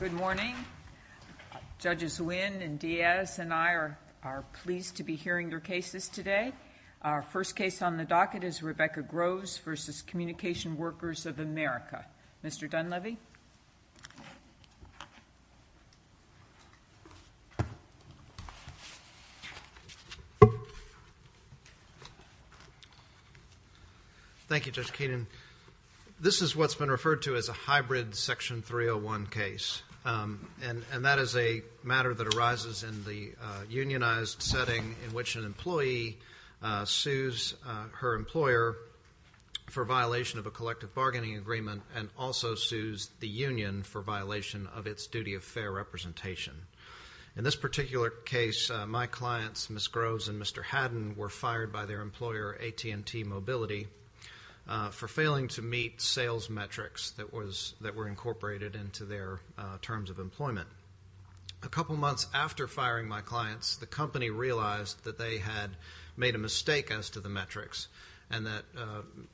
Good morning. Judges Nguyen and Diaz and I are pleased to be hearing their cases today. Our first case on the docket is Rebecca Groves v. Communication Workers of America. Mr. Dunleavy. Thank you, Judge Keenan. This is what's been referred to as a hybrid Section 301 case. And that is a matter that arises in the unionized setting in which an employee sues her employer for violation of a collective bargaining agreement and also sues the union for violation of its duty of fair representation. In this particular case, my clients, Ms. Groves and Mr. Haddon, were fired by their employer, AT&T Mobility, for failing to meet sales metrics that were incorporated into their terms of employment. A couple months after firing my clients, the company realized that they had made a mistake as to the metrics and that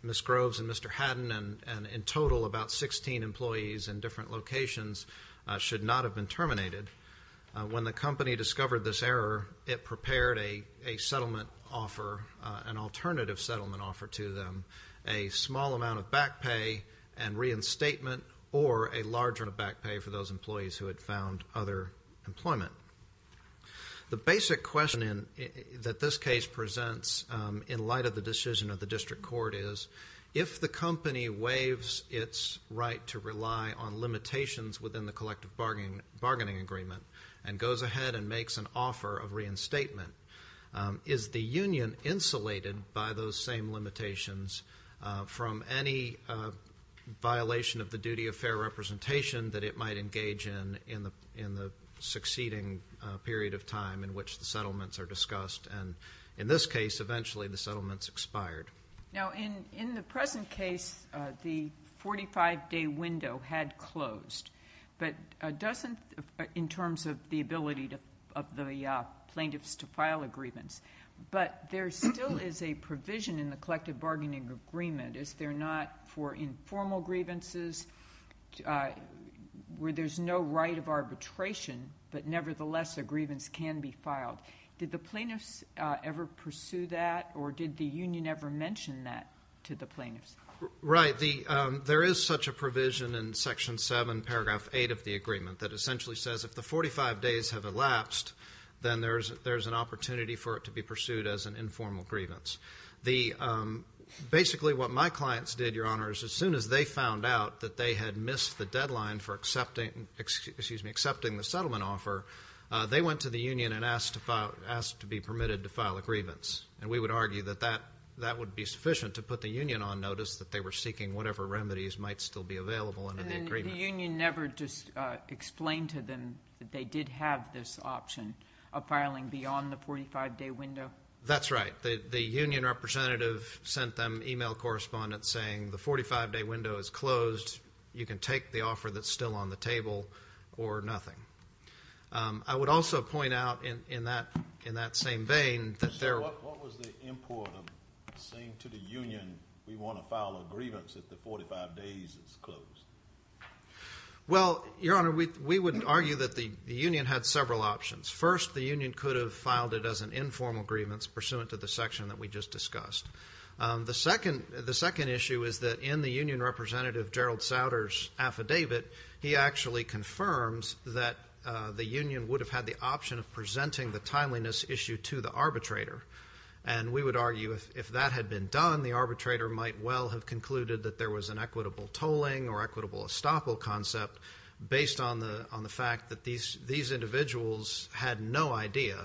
Ms. Groves and Mr. Haddon and in total about 16 employees in different locations should not have been terminated. When the company discovered this error, it prepared a settlement offer, an alternative settlement offer to them, a small amount of back pay and reinstatement or a larger amount of back pay for those employees who had found other employment. The basic question that this case presents in light of the decision of the district court is, if the company waives its right to rely on limitations within the collective bargaining agreement and goes ahead and makes an offer of reinstatement, is the union insulated by those same limitations from any violation of the duty of fair representation that it might engage in in the succeeding period of time in which the settlements are discussed? And in this case, eventually, the settlements expired. Now, in the present case, the 45-day window had closed, but doesn't in terms of the ability of the plaintiffs to file agreements. But there still is a provision in the collective bargaining agreement. Is there not for informal grievances where there's no right of arbitration, but nevertheless a grievance can be filed? Did the plaintiffs ever pursue that, or did the union ever mention that to the plaintiffs? Right. There is such a provision in Section 7, Paragraph 8 of the agreement that essentially says if the 45 days have elapsed, then there's an opportunity for it to be pursued as an informal grievance. Basically what my clients did, Your Honor, is as soon as they found out that they had missed the deadline for accepting the settlement offer, they went to the union and asked to be permitted to file a grievance. And we would argue that that would be sufficient to put the union on notice that they were seeking whatever remedies might still be available under the agreement. The union never just explained to them that they did have this option of filing beyond the 45-day window? That's right. The union representative sent them e-mail correspondence saying the 45-day window is closed. You can take the offer that's still on the table or nothing. I would also point out in that same vein that there- What was the import of saying to the union we want to file a grievance if the 45 days is closed? Well, Your Honor, we would argue that the union had several options. First, the union could have filed it as an informal grievance pursuant to the section that we just discussed. The second issue is that in the union representative, Gerald Sauter's, affidavit, he actually confirms that the union would have had the option of presenting the timeliness issue to the arbitrator. And we would argue if that had been done, the arbitrator might well have concluded that there was an equitable tolling or equitable estoppel concept based on the fact that these individuals had no idea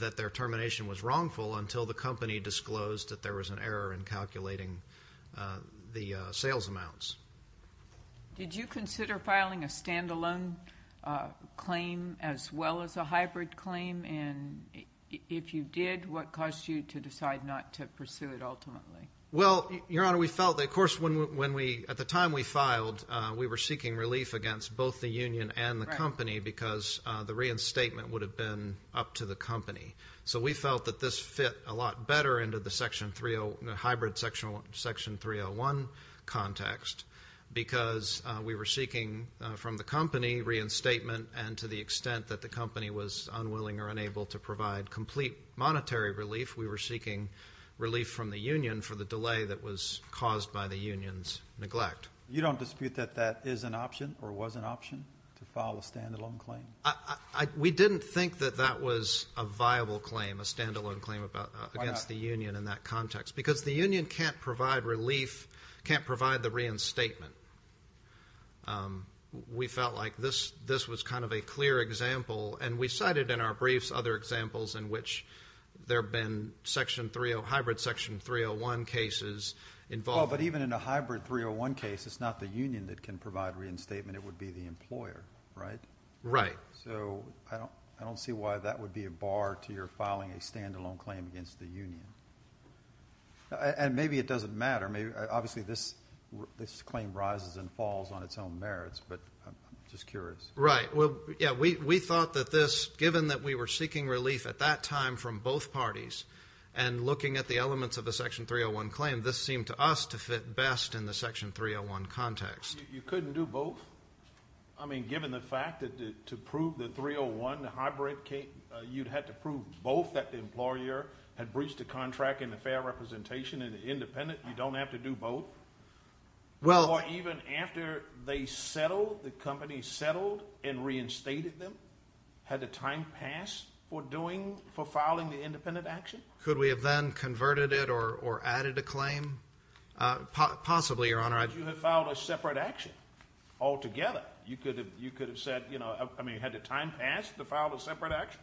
that their termination was wrongful until the company disclosed that there was an error in calculating the sales amounts. Did you consider filing a stand-alone claim as well as a hybrid claim? And if you did, what caused you to decide not to pursue it ultimately? Well, Your Honor, we felt that, of course, at the time we filed, we were seeking relief against both the union and the company because the reinstatement would have been up to the company. So we felt that this fit a lot better into the hybrid Section 301 context because we were seeking from the company reinstatement and to the extent that the company was unwilling or unable to provide complete monetary relief, we were seeking relief from the union for the delay that was caused by the union's neglect. You don't dispute that that is an option or was an option to file a stand-alone claim? We didn't think that that was a viable claim, a stand-alone claim against the union in that context because the union can't provide relief, can't provide the reinstatement. We felt like this was kind of a clear example, and we cited in our briefs other examples in which there have been hybrid Section 301 cases involved. But even in a hybrid 301 case, it's not the union that can provide reinstatement. It would be the employer, right? Right. So I don't see why that would be a bar to your filing a stand-alone claim against the union. And maybe it doesn't matter. Obviously, this claim rises and falls on its own merits, but I'm just curious. Right. Well, yeah, we thought that this, given that we were seeking relief at that time from both parties and looking at the elements of the Section 301 claim, this seemed to us to fit best in the Section 301 context. You couldn't do both? I mean, given the fact that to prove the 301, the hybrid case, you'd have to prove both that the employer had breached the contract and the fair representation and the independent? You don't have to do both? Or even after they settled, the company settled and reinstated them? Had the time passed for filing the independent action? Could we have then converted it or added a claim? Possibly, Your Honor. Why would you have filed a separate action altogether? You could have said, you know, I mean, had the time passed to file a separate action?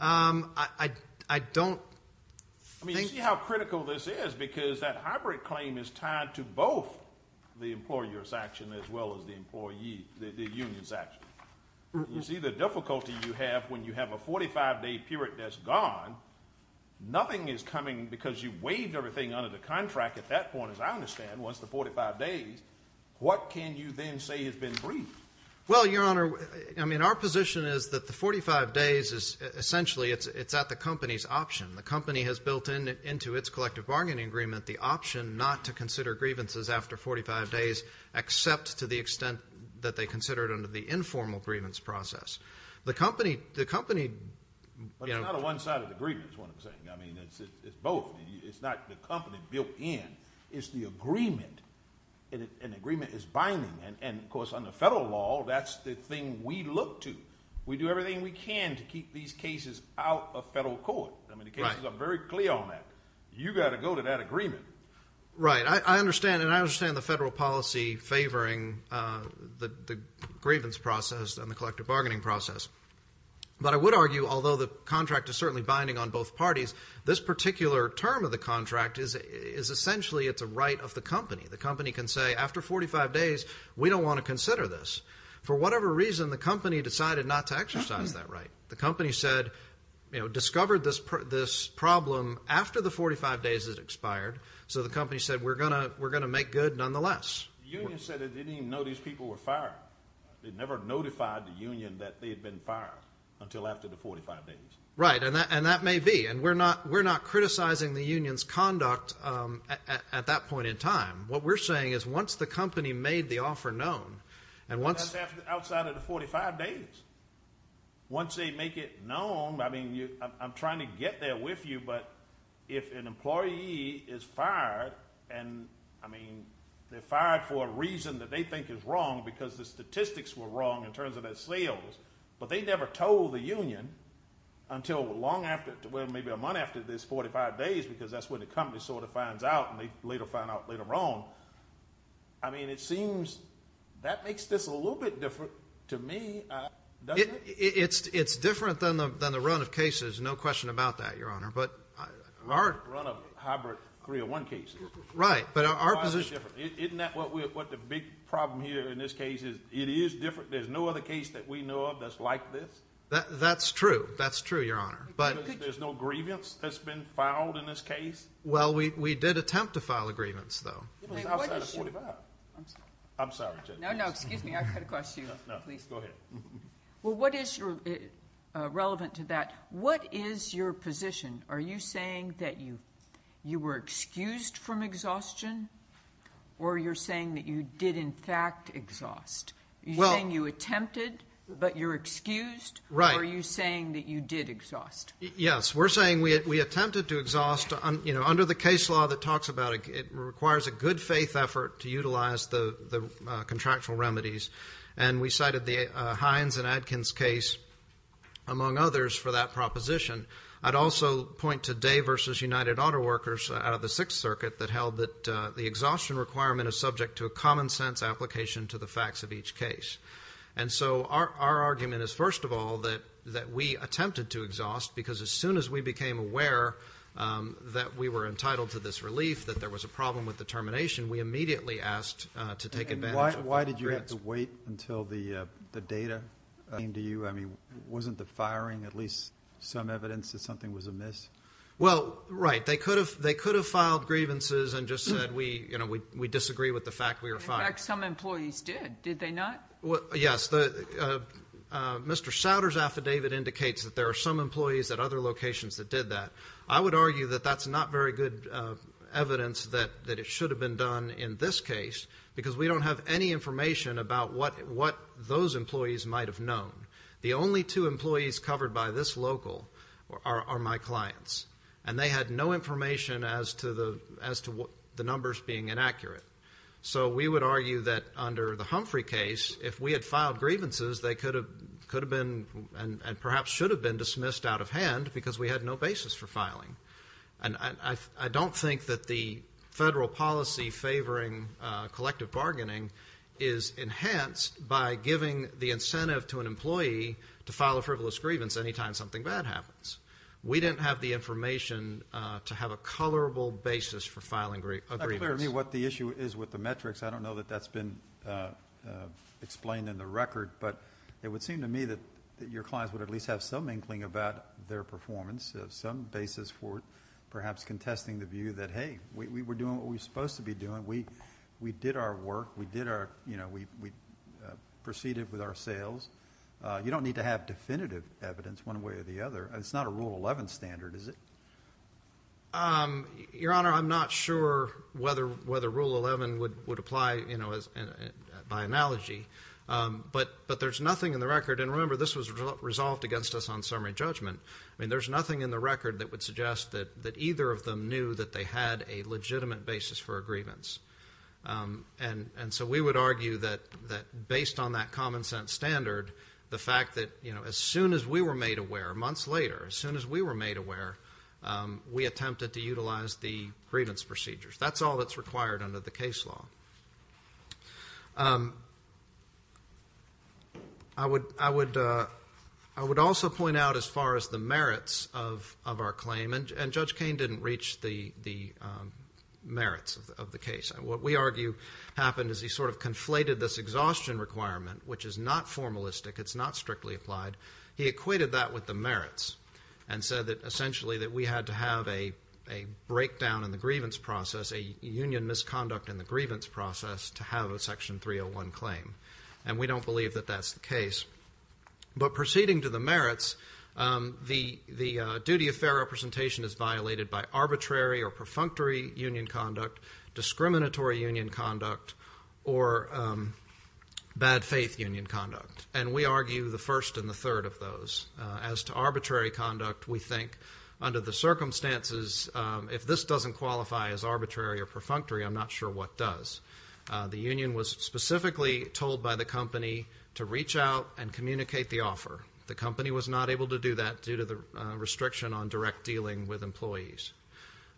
I don't think. I mean, you see how critical this is because that hybrid claim is tied to both the employer's action as well as the union's action. You see the difficulty you have when you have a 45-day period that's gone. Nothing is coming because you waived everything under the contract at that point, as I understand, once the 45 days, what can you then say has been breached? Well, Your Honor, I mean, our position is that the 45 days is essentially it's at the company's option. The company has built into its collective bargaining agreement the option not to consider grievances after 45 days except to the extent that they consider it under the informal grievance process. The company, you know. But it's not a one-sided agreement is what I'm saying. I mean, it's both. It's not the company built in. It's the agreement, and the agreement is binding. And, of course, under federal law, that's the thing we look to. We do everything we can to keep these cases out of federal court. I mean, the cases are very clear on that. You've got to go to that agreement. Right. I understand, and I understand the federal policy favoring the grievance process and the collective bargaining process. But I would argue, although the contract is certainly binding on both parties, this particular term of the contract is essentially it's a right of the company. The company can say, after 45 days, we don't want to consider this. For whatever reason, the company decided not to exercise that right. The company said, you know, discovered this problem after the 45 days had expired. So the company said, we're going to make good nonetheless. The union said they didn't even know these people were fired. They never notified the union that they had been fired until after the 45 days. Right, and that may be. And we're not criticizing the union's conduct at that point in time. What we're saying is once the company made the offer known and once... That's outside of the 45 days. Once they make it known, I mean, I'm trying to get there with you, but if an employee is fired and, I mean, they're fired for a reason that they think is wrong because the statistics were wrong in terms of their sales, but they never told the union until long after... Well, maybe a month after this 45 days because that's when the company sort of finds out and they later find out later on. I mean, it seems that makes this a little bit different to me, doesn't it? It's different than the run of cases, no question about that, Your Honor, but... Our run of hybrid 301 cases. Right, but our position... Why is it different? Isn't that what the big problem here in this case is it is different. There's no other case that we know of that's like this? That's true, that's true, Your Honor, but... Because there's no grievance that's been filed in this case? Well, we did attempt to file a grievance, though. It was outside of 45. I'm sorry. I'm sorry, Judge. No, no, excuse me, I cut across you. No, no, go ahead. Well, what is relevant to that? What is your position? Are you saying that you were excused from exhaustion or you're saying that you did in fact exhaust? Are you saying you attempted but you're excused? Right. Or are you saying that you did exhaust? Yes, we're saying we attempted to exhaust. Under the case law that talks about it, it requires a good faith effort to utilize the contractual remedies, and we cited the Hines and Adkins case, among others, for that proposition. I'd also point to Day v. United Auto Workers out of the Sixth Circuit that held that the exhaustion requirement is subject to a common sense application to the facts of each case. And so our argument is, first of all, that we attempted to exhaust because as soon as we became aware that we were entitled to this relief, that there was a problem with the termination, we immediately asked to take advantage of the grievance. And why did you have to wait until the data came to you? I mean, wasn't the firing at least some evidence that something was amiss? Well, right, they could have filed grievances and just said we disagree with the fact we were fined. In fact, some employees did, did they not? Yes, Mr. Souder's affidavit indicates that there are some employees at other locations that did that. I would argue that that's not very good evidence that it should have been done in this case because we don't have any information about what those employees might have known. The only two employees covered by this local are my clients, and they had no information as to the numbers being inaccurate. So we would argue that under the Humphrey case, if we had filed grievances, they could have been and perhaps should have been dismissed out of hand because we had no basis for filing. And I don't think that the federal policy favoring collective bargaining is enhanced by giving the incentive to an employee to file a frivolous grievance any time something bad happens. We didn't have the information to have a colorable basis for filing a grievance. I'm not sure to me what the issue is with the metrics. I don't know that that's been explained in the record, but it would seem to me that your clients would at least have some inkling about their performance, some basis for perhaps contesting the view that, hey, we were doing what we were supposed to be doing. We did our work. We did our, you know, we proceeded with our sales. You don't need to have definitive evidence one way or the other. It's not a Rule 11 standard, is it? Your Honor, I'm not sure whether Rule 11 would apply, you know, by analogy. But there's nothing in the record, and remember this was resolved against us on summary judgment. I mean, there's nothing in the record that would suggest that either of them knew that they had a legitimate basis for a grievance. And so we would argue that based on that common sense standard, the fact that, you know, as soon as we were made aware, months later, as soon as we were made aware, we attempted to utilize the grievance procedures. That's all that's required under the case law. I would also point out as far as the merits of our claim, and Judge Kain didn't reach the merits of the case. What we argue happened is he sort of conflated this exhaustion requirement, which is not formalistic, it's not strictly applied. He equated that with the merits and said that essentially that we had to have a breakdown in the grievance process, a union misconduct in the grievance process, to have a Section 301 claim. And we don't believe that that's the case. But proceeding to the merits, the duty of fair representation is violated by arbitrary or perfunctory union conduct, discriminatory union conduct, or bad faith union conduct. And we argue the first and the third of those. As to arbitrary conduct, we think under the circumstances, if this doesn't qualify as arbitrary or perfunctory, I'm not sure what does. The union was specifically told by the company to reach out and communicate the offer. The company was not able to do that due to the restriction on direct dealing with employees.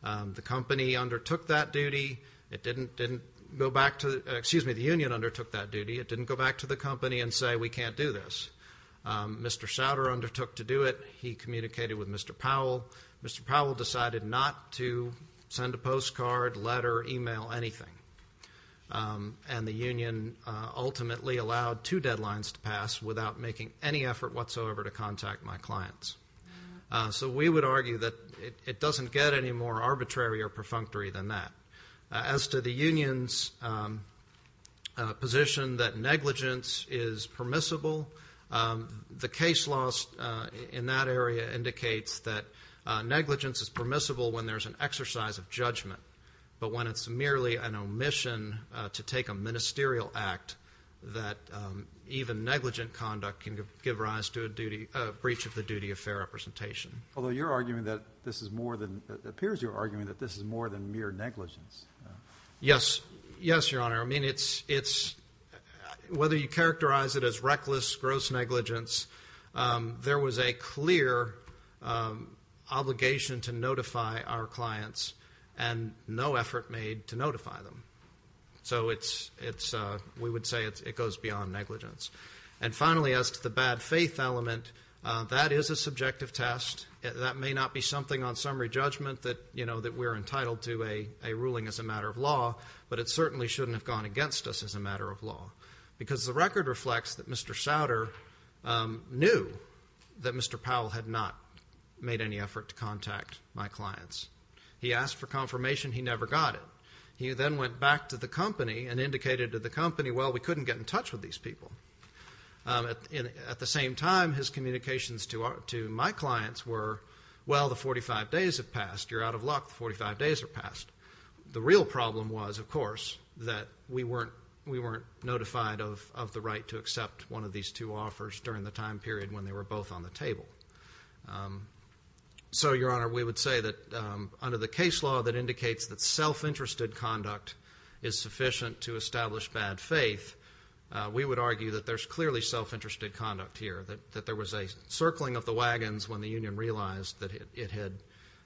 The company undertook that duty. It didn't go back to the union undertook that duty. It didn't go back to the company and say, we can't do this. Mr. Schauder undertook to do it. He communicated with Mr. Powell. Mr. Powell decided not to send a postcard, letter, e-mail, anything. And the union ultimately allowed two deadlines to pass without making any effort whatsoever to contact my clients. So we would argue that it doesn't get any more arbitrary or perfunctory than that. As to the union's position that negligence is permissible, the case laws in that area indicates that negligence is permissible when there's an exercise of judgment, but when it's merely an omission to take a ministerial act, that even negligent conduct can give rise to a breach of the duty of fair representation. Although it appears you're arguing that this is more than mere negligence. Yes. Yes, Your Honor. I mean, whether you characterize it as reckless, gross negligence, there was a clear obligation to notify our clients and no effort made to notify them. So we would say it goes beyond negligence. And finally, as to the bad faith element, that is a subjective test. That may not be something on summary judgment that we're entitled to a ruling as a matter of law, but it certainly shouldn't have gone against us as a matter of law because the record reflects that Mr. Souter knew that Mr. Powell had not made any effort to contact my clients. He asked for confirmation. He never got it. He then went back to the company and indicated to the company, well, we couldn't get in touch with these people. At the same time, his communications to my clients were, well, the 45 days have passed. You're out of luck. The 45 days have passed. The real problem was, of course, that we weren't notified of the right to accept one of these two offers So, Your Honor, we would say that under the case law that indicates that self-interested conduct is sufficient to establish bad faith, we would argue that there's clearly self-interested conduct here, that there was a circling of the wagons when the union realized that it had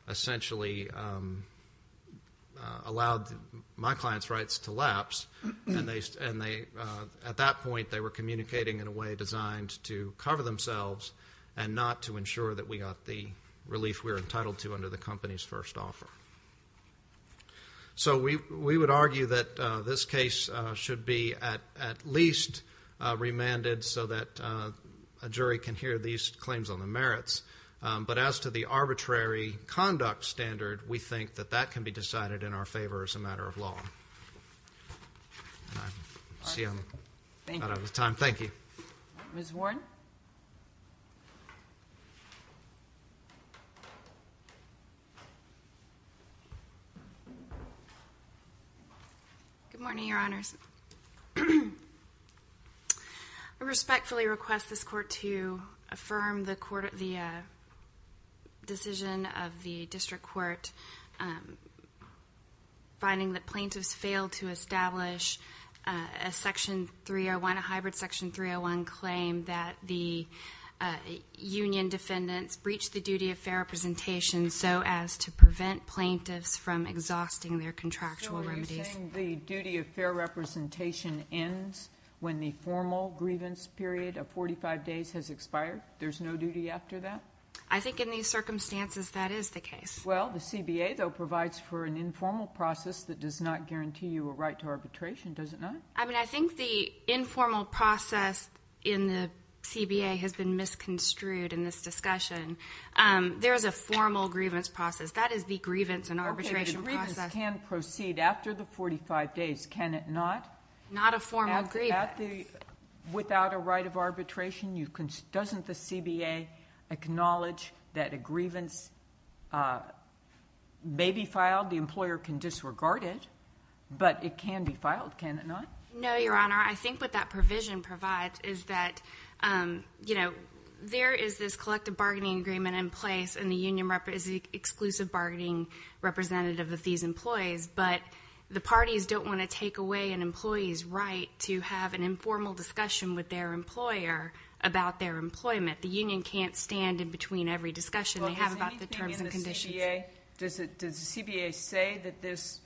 essentially allowed my clients' rights to lapse. At that point, they were communicating in a way designed to cover themselves and not to ensure that we got the relief we were entitled to under the company's first offer. So we would argue that this case should be at least remanded so that a jury can hear these claims on the merits. But as to the arbitrary conduct standard, we think that that can be decided in our favor as a matter of law. I see I'm out of time. Thank you. Ms. Warren? Good morning, Your Honors. I respectfully request this Court to affirm the decision of the district court finding that plaintiffs failed to establish a section 301, a hybrid section 301 claim that the union defendants breached the duty of fair representation so as to prevent plaintiffs from exhausting their contractual remedies. You're saying the duty of fair representation ends when the formal grievance period of 45 days has expired? There's no duty after that? I think in these circumstances that is the case. Well, the CBA, though, provides for an informal process that does not guarantee you a right to arbitration, does it not? I mean, I think the informal process in the CBA has been misconstrued in this discussion. There is a formal grievance process. That is the grievance and arbitration process. It can proceed after the 45 days, can it not? Not a formal grievance. Without a right of arbitration, doesn't the CBA acknowledge that a grievance may be filed, the employer can disregard it, but it can be filed, can it not? No, Your Honor. I think what that provision provides is that, you know, there is this collective bargaining agreement in place and the union is the exclusive bargaining representative of these employees, but the parties don't want to take away an employee's right to have an informal discussion with their employer about their employment. The union can't stand in between every discussion they have about the terms and conditions. Does the CBA say that this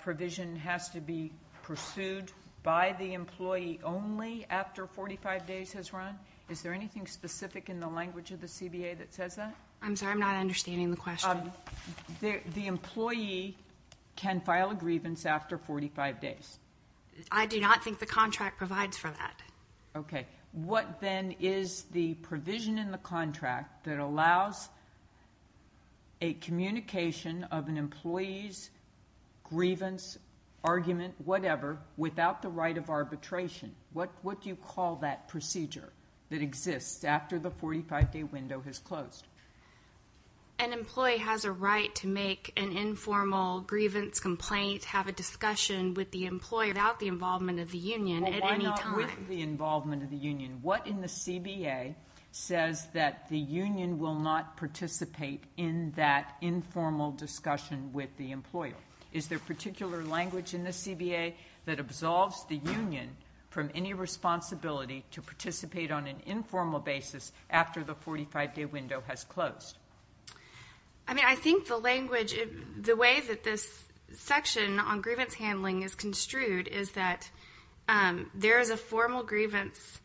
provision has to be pursued by the employee only after 45 days has run? Is there anything specific in the language of the CBA that says that? I'm sorry, I'm not understanding the question. The employee can file a grievance after 45 days. I do not think the contract provides for that. Okay. What then is the provision in the contract that allows a communication of an employee's grievance, argument, whatever, without the right of arbitration? What do you call that procedure that exists after the 45-day window has closed? An employee has a right to make an informal grievance complaint, have a discussion with the employer about the involvement of the union at any time. Well, why not with the involvement of the union? What in the CBA says that the union will not participate in that informal discussion with the employer? Is there particular language in the CBA that absolves the union from any responsibility to participate on an informal basis after the 45-day window has closed? I mean, I think the language, the way that this section on grievance handling is construed is that there is a formal grievance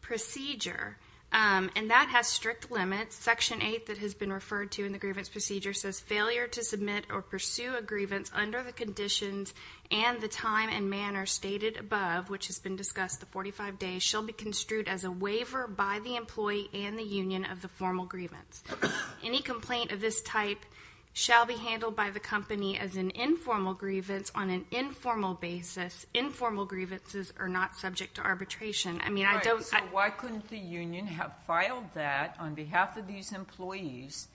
procedure, and that has strict limits. Section 8 that has been referred to in the grievance procedure says, failure to submit or pursue a grievance under the conditions and the time and manner stated above, which has been discussed the 45 days, shall be construed as a waiver by the employee and the union of the formal grievance. Any complaint of this type shall be handled by the company as an informal grievance on an informal basis. Informal grievances are not subject to arbitration. So why couldn't the union have filed that on behalf of these employees,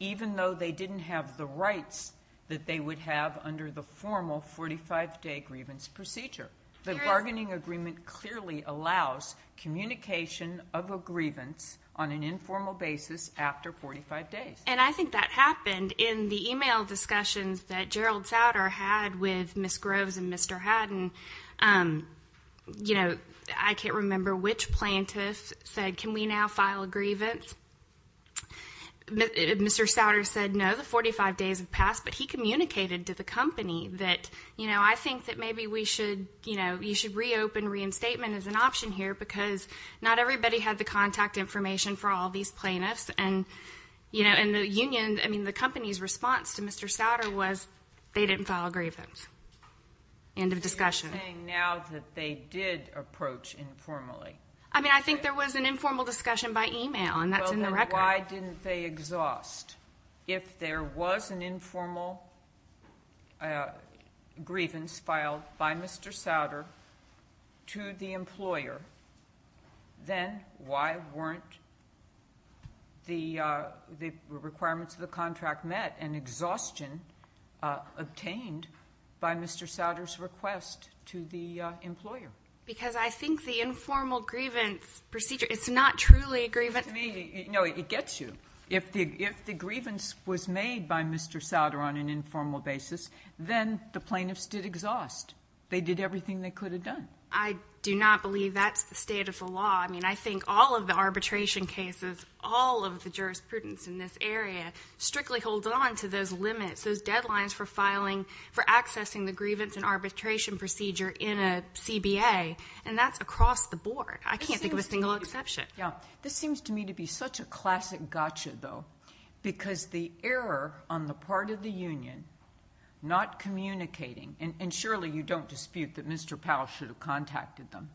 even though they didn't have the rights that they would have under the formal 45-day grievance procedure? The bargaining agreement clearly allows communication of a grievance on an informal basis after 45 days. And I think that happened in the e-mail discussions that Gerald Souder had with Ms. Groves and Mr. Haddon. You know, I can't remember which plaintiff said, can we now file a grievance? Mr. Souder said, no, the 45 days have passed. But he communicated to the company that, you know, I think that maybe we should, you know, you should reopen reinstatement as an option here because not everybody had the contact information for all these plaintiffs. And, you know, in the union, I mean, the company's response to Mr. Souder was they didn't file a grievance. End of discussion. So you're saying now that they did approach informally? I mean, I think there was an informal discussion by e-mail, and that's in the record. Well, then why didn't they exhaust? If there was an informal grievance filed by Mr. Souder to the employer, then why weren't the requirements of the contract met and exhaustion obtained by Mr. Souder's request to the employer? Because I think the informal grievance procedure, it's not truly a grievance. To me, no, it gets you. If the grievance was made by Mr. Souder on an informal basis, then the plaintiffs did exhaust. They did everything they could have done. I do not believe that's the state of the law. I mean, I think all of the arbitration cases, all of the jurisprudence in this area strictly holds on to those limits, those deadlines for filing, for accessing the grievance and arbitration procedure in a CBA, and that's across the board. I can't think of a single exception. Yeah. This seems to me to be such a classic gotcha, though, because the error on the part of the union not communicating, and surely you don't dispute that Mr. Powell should have contacted them.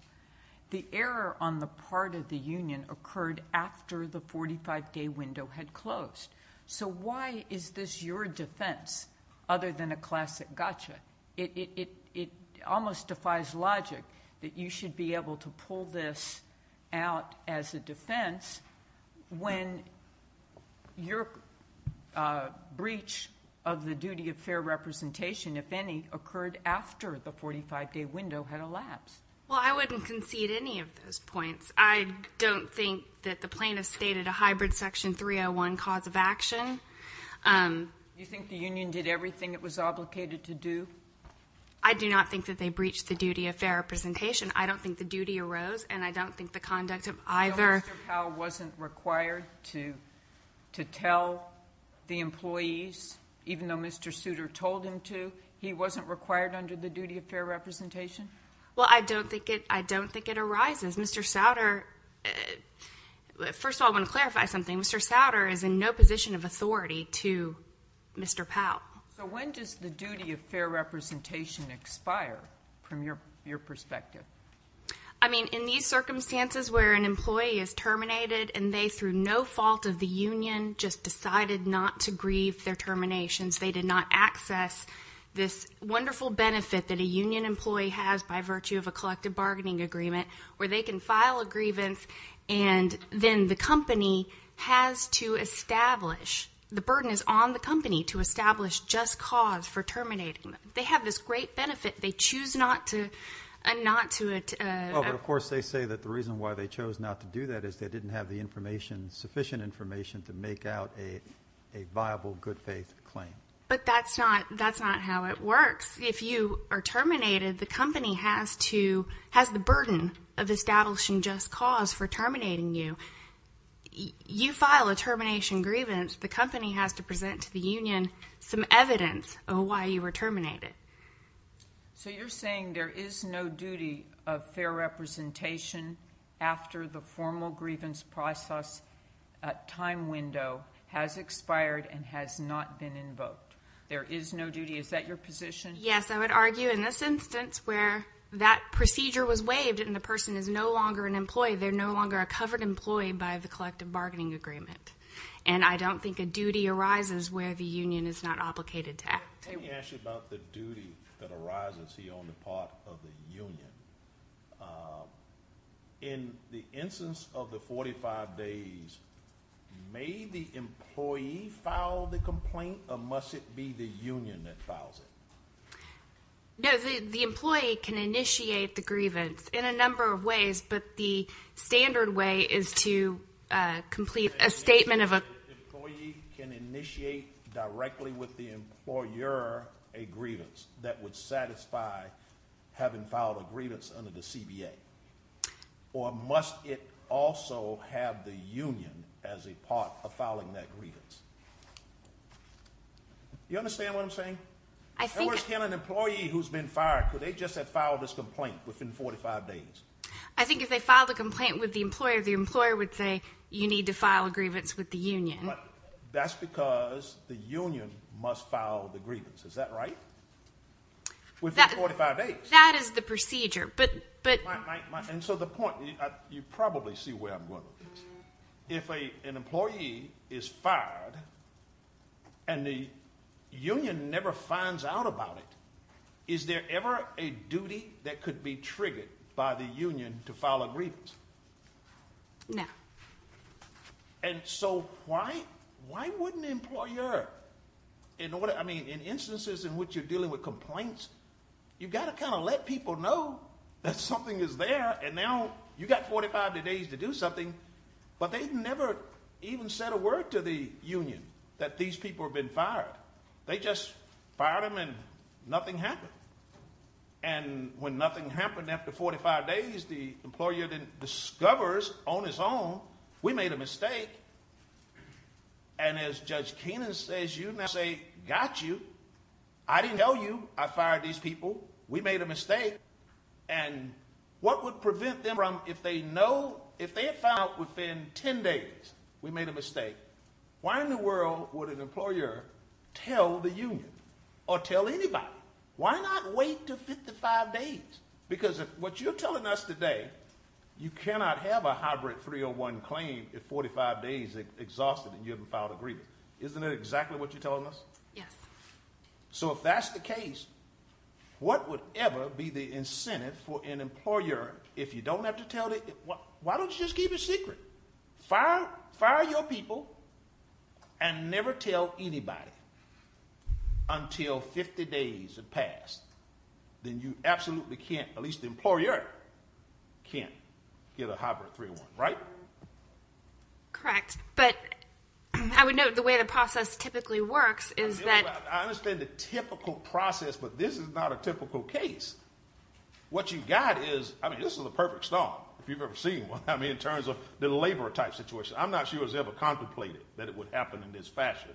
The error on the part of the union occurred after the 45-day window had closed. So why is this your defense other than a classic gotcha? It almost defies logic that you should be able to pull this out as a defense when your breach of the duty of fair representation, if any, occurred after the 45-day window had elapsed. Well, I wouldn't concede any of those points. I don't think that the plaintiffs stated a hybrid Section 301 cause of action. Do you think the union did everything it was obligated to do? I do not think that they breached the duty of fair representation. I don't think the duty arose, and I don't think the conduct of either. So Mr. Powell wasn't required to tell the employees, even though Mr. Souter told him to? He wasn't required under the duty of fair representation? Well, I don't think it arises. Mr. Souter, first of all, I want to clarify something. Mr. Souter is in no position of authority to Mr. Powell. So when does the duty of fair representation expire from your perspective? I mean, in these circumstances where an employee is terminated and they, through no fault of the union, just decided not to grieve their terminations, they did not access this wonderful benefit that a union employee has by virtue of a collective bargaining agreement where they can file a grievance and then the company has to establish, the burden is on the company to establish just cause for terminating them. They have this great benefit. They choose not to. Well, but of course they say that the reason why they chose not to do that is they didn't have the information, sufficient information to make out a viable, good-faith claim. But that's not how it works. If you are terminated, the company has the burden of establishing just cause for terminating you. You file a termination grievance. The company has to present to the union some evidence of why you were terminated. So you're saying there is no duty of fair representation after the formal grievance process time window has expired and has not been invoked. There is no duty. Is that your position? They're no longer a covered employee by the collective bargaining agreement. And I don't think a duty arises where the union is not obligated to act. Let me ask you about the duty that arises here on the part of the union. In the instance of the 45 days, may the employee file the complaint or must it be the union that files it? No, the employee can initiate the grievance in a number of ways, but the standard way is to complete a statement of a complaint. The employee can initiate directly with the employer a grievance that would satisfy having filed a grievance under the CBA. Or must it also have the union as a part of filing that grievance? Do you understand what I'm saying? And where's an employee who's been fired? Could they just have filed this complaint within 45 days? I think if they filed a complaint with the employer, the employer would say you need to file a grievance with the union. That's because the union must file the grievance. Is that right? Within 45 days. That is the procedure. And so the point, you probably see where I'm going with this. If an employee is fired and the union never finds out about it, is there ever a duty that could be triggered by the union to file a grievance? No. And so why wouldn't an employer, I mean, in instances in which you're dealing with complaints, you've got to kind of let people know that something is there and now you've got 45 days to do something, but they've never even said a word to the union that these people have been fired. They just fired them and nothing happened. And when nothing happened after 45 days, the employer then discovers on its own we made a mistake. And as Judge Keenan says, you now say, got you. I didn't tell you I fired these people. We made a mistake. And what would prevent them from, if they had found out within 10 days we made a mistake, why in the world would an employer tell the union or tell anybody? Why not wait to 55 days? Because what you're telling us today, you cannot have a hybrid 301 claim at 45 days exhausted and you haven't filed a grievance. Isn't that exactly what you're telling us? Yes. So if that's the case, what would ever be the incentive for an employer, if you don't have to tell, why don't you just keep it secret? Fire your people and never tell anybody until 50 days have passed. Then you absolutely can't, at least the employer, can't get a hybrid 301, right? Correct. But I would note the way the process typically works is that— I understand the typical process, but this is not a typical case. What you've got is, I mean, this is the perfect storm, if you've ever seen one, I mean, in terms of the labor type situation. I'm not sure it was ever contemplated that it would happen in this fashion.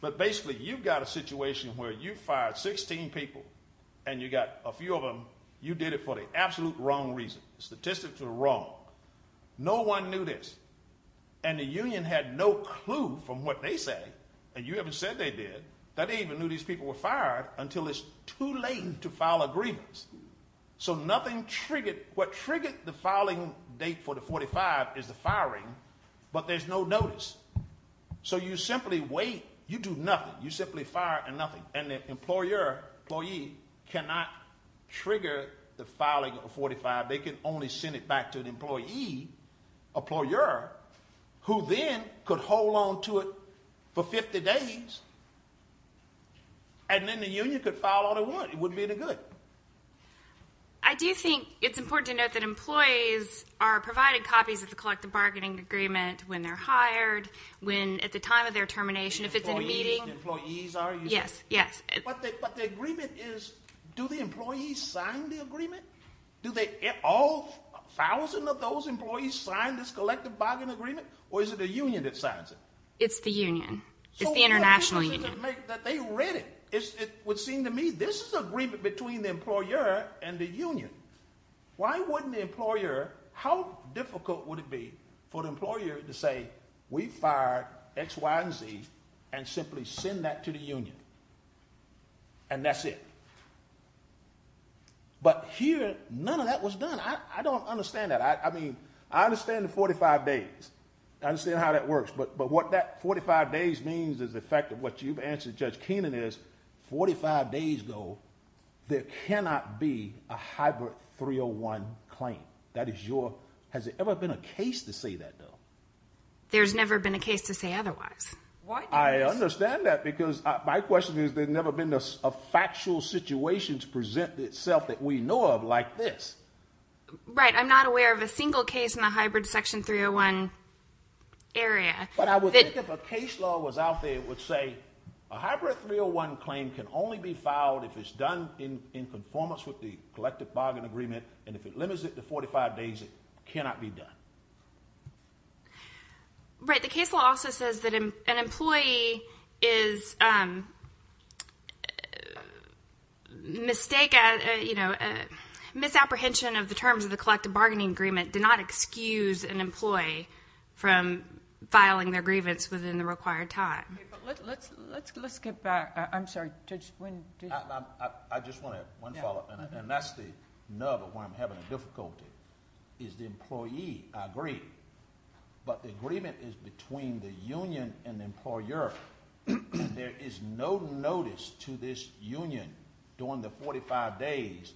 But basically you've got a situation where you fired 16 people and you got a few of them. You did it for the absolute wrong reason. The statistics are wrong. No one knew this. And the union had no clue from what they said, and you haven't said they did, that they even knew these people were fired until it's too late to file agreements. So nothing triggered—what triggered the filing date for the 45 is the firing, but there's no notice. So you simply wait. You do nothing. You simply fire and nothing. And the employer, employee, cannot trigger the filing of a 45. They can only send it back to an employee, employer, who then could hold on to it for 50 days, and then the union could file all they want. It wouldn't be any good. I do think it's important to note that employees are provided copies of the collective bargaining agreement when they're hired, when at the time of their termination, if it's in a meeting. Employees are? Yes, yes. But the agreement is, do the employees sign the agreement? Do all 1,000 of those employees sign this collective bargaining agreement, or is it the union that signs it? It's the union. It's the international union. They read it. It would seem to me this is an agreement between the employer and the union. Why wouldn't the employer—how difficult would it be for the employer to say, we fired X, Y, and Z, and simply send that to the union? And that's it. But here, none of that was done. I don't understand that. I understand the 45 days. I understand how that works. But what that 45 days means is the fact that what you've answered, Judge Keenan, is 45 days ago there cannot be a hybrid 301 claim. That is your—has there ever been a case to say that, though? There's never been a case to say otherwise. I understand that because my question is there's never been a factual situation to present itself that we know of like this. Right. I'm not aware of a single case in the hybrid Section 301 area. But I would think if a case law was out there, it would say a hybrid 301 claim can only be filed if it's done in conformance with the collective bargaining agreement, and if it limits it to 45 days, it cannot be done. Right. The case law also says that an employee is—misapprehension of the terms of the collective bargaining agreement did not excuse an employee from filing their grievance within the required time. Let's get back. I'm sorry. Judge, when did— I just want to—one follow-up. And that's the nub of where I'm having a difficulty is the employee agreed, but the agreement is between the union and the employer. There is no notice to this union during the 45 days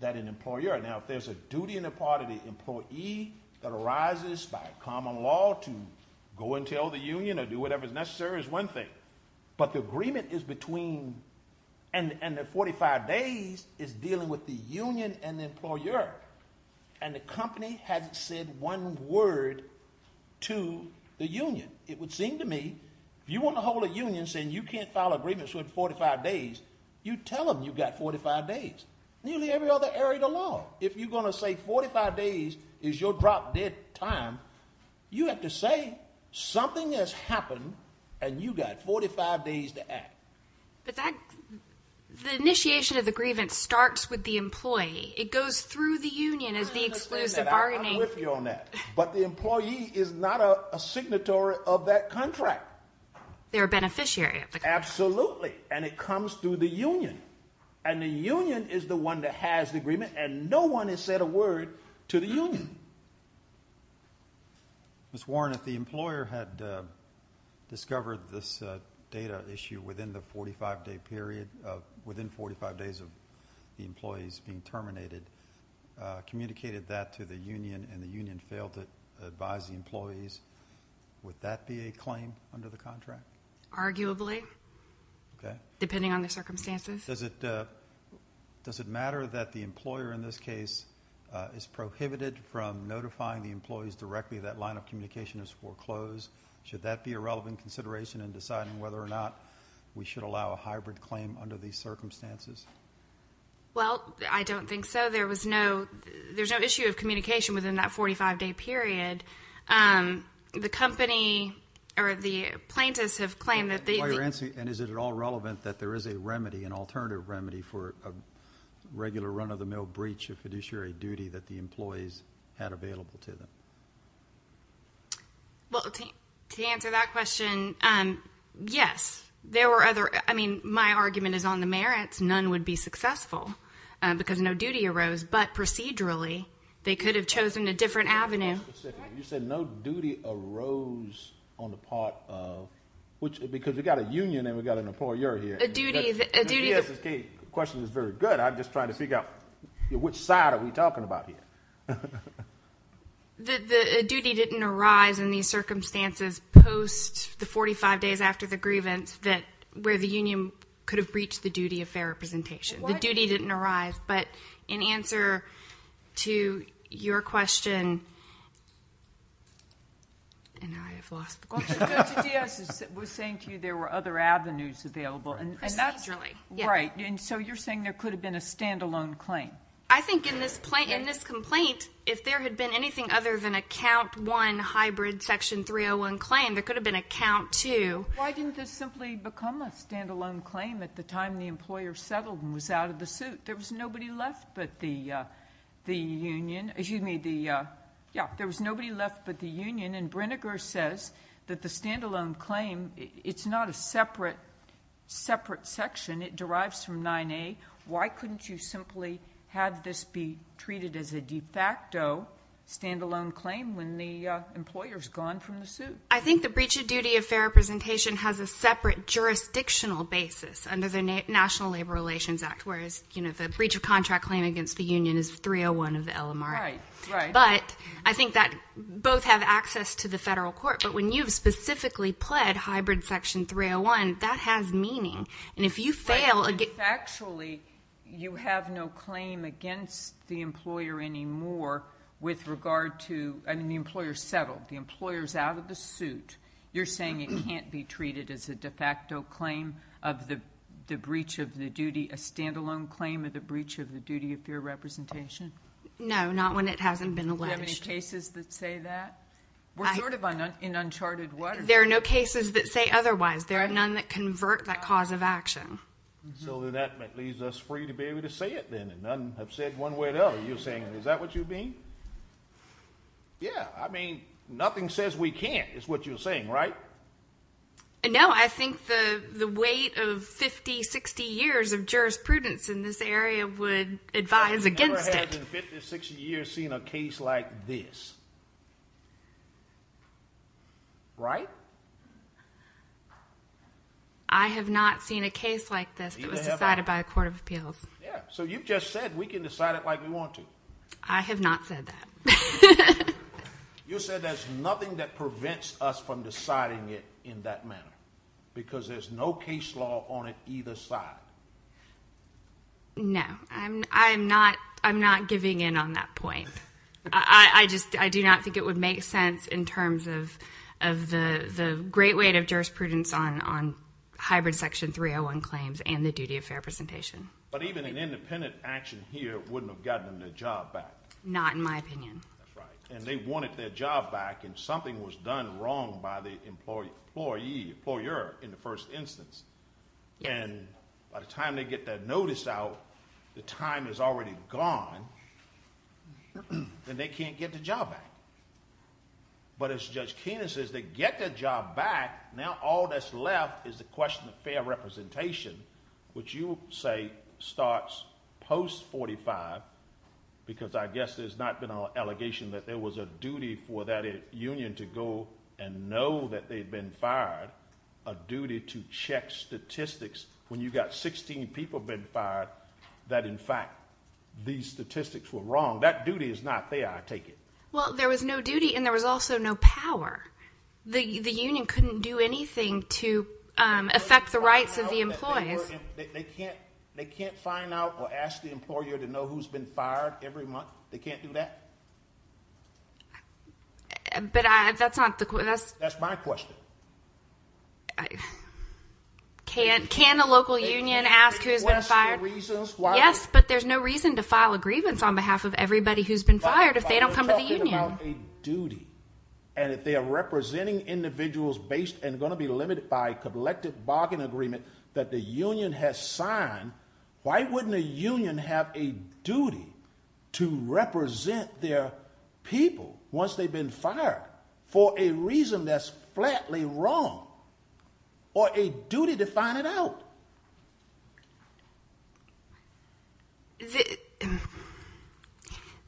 that an employer—now, if there's a duty and a part of the employee that arises by a common law to go and tell the union or do whatever is necessary is one thing, but the agreement is between—and the 45 days is dealing with the union and the employer, and the company hasn't said one word to the union. It would seem to me if you want to hold a union saying you can't file a grievance within 45 days, you tell them you've got 45 days. Nearly every other area of the law, if you're going to say 45 days is your drop-dead time, you have to say something has happened and you've got 45 days to act. But that—the initiation of the grievance starts with the employee. It goes through the union as the exclusive bargaining— I'm going to explain that. I'm going to riff you on that. But the employee is not a signatory of that contract. They're a beneficiary of the contract. Absolutely, and it comes through the union. And the union is the one that has the agreement, and no one has said a word to the union. Ms. Warren, if the employer had discovered this data issue within the 45-day period of—within 45 days of the employees being terminated, communicated that to the union and the union failed to advise the employees, would that be a claim under the contract? Arguably. Okay. Depending on the circumstances. Does it matter that the employer in this case is prohibited from notifying the employees directly that line of communication is foreclosed? Should that be a relevant consideration in deciding whether or not we should allow a hybrid claim under these circumstances? Well, I don't think so. There was no—there's no issue of communication within that 45-day period. The company or the plaintiffs have claimed that they— And is it at all relevant that there is a remedy, an alternative remedy, for a regular run-of-the-mill breach of fiduciary duty that the employees had available to them? Well, to answer that question, yes. There were other—I mean, my argument is on the merits. None would be successful because no duty arose. But procedurally, they could have chosen a different avenue. You said no duty arose on the part of—because we've got a union and we've got an employer here. A duty— The question is very good. I'm just trying to figure out which side are we talking about here. A duty didn't arise in these circumstances post the 45 days after the grievance where the union could have breached the duty of fair representation. The duty didn't arise. But in answer to your question—and I have lost the question. Judge Diaz was saying to you there were other avenues available. Procedurally. Right. And so you're saying there could have been a stand-alone claim. I think in this complaint, if there had been anything other than a Count I hybrid Section 301 claim, there could have been a Count II. Why didn't this simply become a stand-alone claim at the time the employer settled and was out of the suit? There was nobody left but the union. Excuse me. Yeah, there was nobody left but the union. And Brinegar says that the stand-alone claim, it's not a separate section. It derives from 9A. Why couldn't you simply have this be treated as a de facto stand-alone claim when the employer's gone from the suit? I think the breach of duty of fair representation has a separate jurisdictional basis under the National Labor Relations Act, whereas the breach of contract claim against the union is 301 of the LMR. Right, right. But I think that both have access to the federal court. But when you've specifically pled hybrid Section 301, that has meaning. And if you fail— Actually, you have no claim against the employer anymore with regard to—I mean, the employer's settled. The employer's out of the suit. You're saying it can't be treated as a de facto claim of the breach of the duty, a stand-alone claim of the breach of the duty of fair representation? No, not when it hasn't been alleged. Do you have any cases that say that? We're sort of in uncharted waters. There are no cases that say otherwise. There are none that convert that cause of action. So that leaves us free to be able to say it then. And none have said one way or the other. You're saying is that what you mean? Yeah. I mean, nothing says we can't is what you're saying. Right? No. I think the weight of 50, 60 years of jurisprudence in this area would advise against it. No one has in 50 or 60 years seen a case like this. Right? I have not seen a case like this. It was decided by the Court of Appeals. Yeah. So you've just said we can decide it like we want to. I have not said that. You said there's nothing that prevents us from deciding it in that manner. Because there's no case law on it either side. No. I'm not giving in on that point. I just do not think it would make sense in terms of the great weight of jurisprudence on hybrid Section 301 claims and the duty of fair representation. But even an independent action here wouldn't have gotten the job back. Not in my opinion. That's right. And they wanted their job back and something was done wrong by the employee, employer, in the first instance. Yeah. And by the time they get their notice out, the time is already gone, and they can't get the job back. But as Judge Keenan says, they get their job back, now all that's left is the question of fair representation, which you say starts post-45, because I guess there's not been an allegation that there was a duty for that union to go and know that they'd been fired, a duty to check statistics when you've got 16 people been fired, that in fact these statistics were wrong. That duty is not there, I take it. Well, there was no duty and there was also no power. The union couldn't do anything to affect the rights of the employees. They can't find out or ask the employer to know who's been fired every month? They can't do that? But that's not the question. That's my question. Can a local union ask who's been fired? Yes, but there's no reason to file a grievance on behalf of everybody who's been fired if they don't come to the union. But you're talking about a duty, and if they're representing individuals based and going to be limited by collective bargain agreement that the union has signed, why wouldn't a union have a duty to represent their people once they've been fired for a reason that's flatly wrong, or a duty to find it out?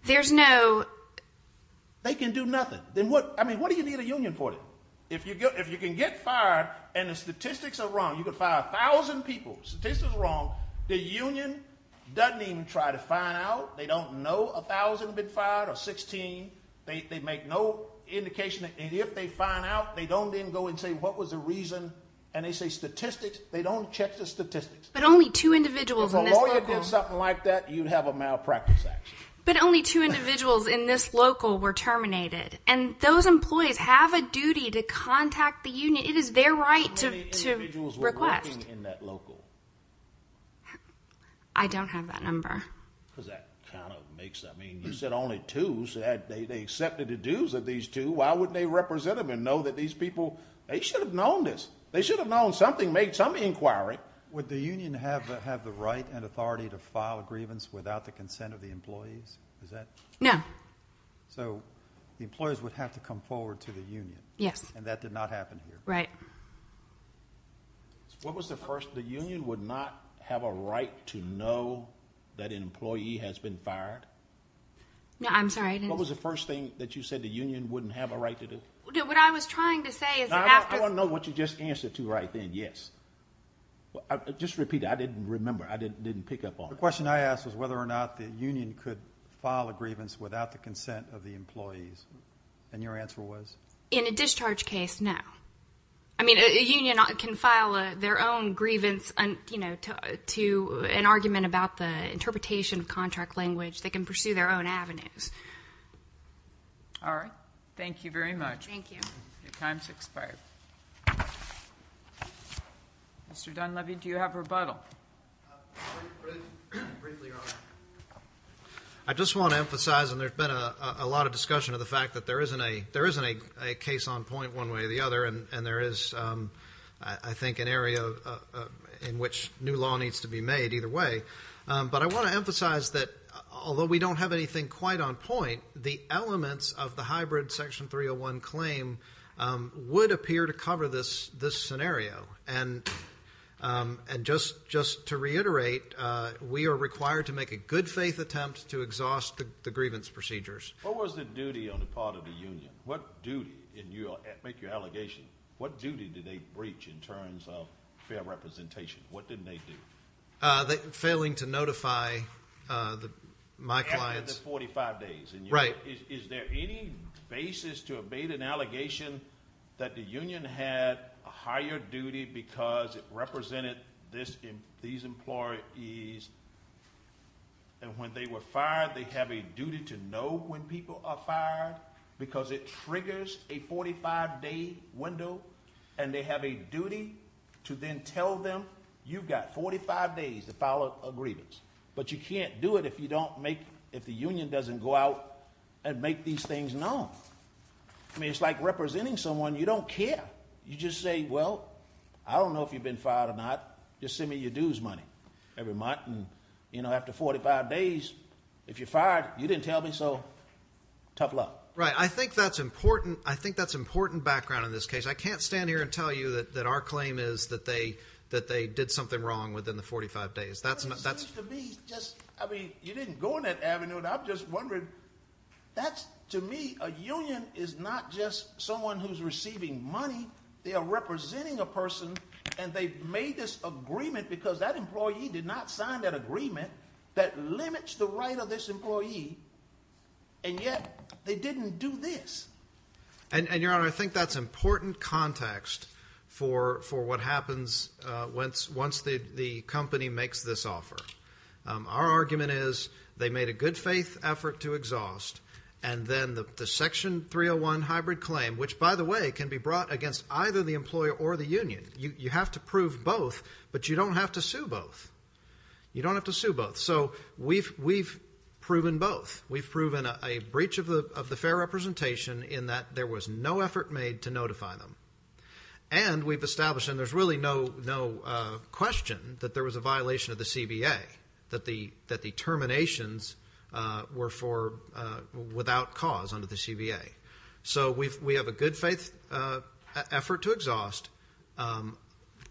There's no... They can do nothing. I mean, what do you need a union for? If you can get fired and the statistics are wrong, you can fire a thousand people, statistics are wrong, the union doesn't even try to find out. They don't know a thousand have been fired or 16. They make no indication, and if they find out, they don't then go and say, what was the reason, and they say statistics. They don't check the statistics. But only two individuals in this local... If a lawyer did something like that, you'd have a malpractice action. But only two individuals in this local were terminated, and those employees have a duty to contact the union. It is their right to request. How many individuals were working in that local? I don't have that number. Because that kind of makes... I mean, you said only two, so they accepted the dues of these two. Why wouldn't they represent them and know that these people, they should have known this. They should have known something, made some inquiry. Would the union have the right and authority to file a grievance without the consent of the employees? Is that... No. So the employees would have to come forward to the union. Yes. And that did not happen here. Right. What was the first... The union would not have a right to know that an employee has been fired? I'm sorry, I didn't... What was the first thing that you said the union wouldn't have a right to do? What I was trying to say is... I want to know what you just answered to right then, yes. Just repeat it. I didn't remember. I didn't pick up on it. The question I asked was whether or not the union could file a grievance without the consent of the employees. And your answer was? In a discharge case, no. I mean, a union can file their own grievance to an argument about the interpretation of contract language. They can pursue their own avenues. All right. Thank you very much. Thank you. Your time has expired. Mr. Dunleavy, do you have a rebuttal? I just want to emphasize, and there's been a lot of discussion of the fact that there isn't a case on point one way or the other. And there is, I think, an area in which new law needs to be made either way. But I want to emphasize that although we don't have anything quite on point, the elements of the hybrid Section 301 claim would appear to cover this scenario. And just to reiterate, we are required to make a good-faith attempt to exhaust the grievance procedures. What was the duty on the part of the union? What duty, and make your allegation, what duty did they reach in terms of fair representation? What didn't they do? Failing to notify my clients. After the 45 days. Right. Is there any basis to evade an allegation that the union had a higher duty because it represented these employees? And when they were fired, they have a duty to know when people are fired because it triggers a 45-day window, and they have a duty to then tell them you've got 45 days to file a grievance. But you can't do it if you don't make, if the union doesn't go out and make these things known. I mean, it's like representing someone you don't care. You just say, well, I don't know if you've been fired or not. Just send me your dues money every month. And, you know, after 45 days, if you're fired, you didn't tell me, so tough luck. Right. I think that's important. I think that's important background in this case. I can't stand here and tell you that our claim is that they did something wrong within the 45 days. But it seems to me just, I mean, you didn't go in that avenue, and I'm just wondering. That's, to me, a union is not just someone who's receiving money. They are representing a person, and they made this agreement because that employee did not sign that agreement that limits the right of this employee. And yet they didn't do this. And, Your Honor, I think that's important context for what happens once the company makes this offer. Our argument is they made a good faith effort to exhaust, and then the Section 301 hybrid claim, which, by the way, can be brought against either the employer or the union. You have to prove both, but you don't have to sue both. You don't have to sue both. So we've proven both. We've proven a breach of the fair representation in that there was no effort made to notify them. And we've established, and there's really no question, that there was a violation of the CBA, that the terminations were for without cause under the CBA. So we have a good faith effort to exhaust,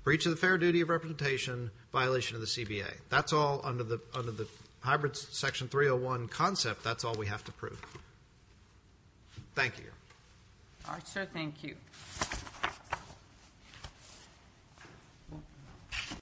breach of the fair duty of representation, violation of the CBA. That's all under the hybrid Section 301 concept. That's all we have to prove. Thank you, Your Honor. All right, sir. Thank you.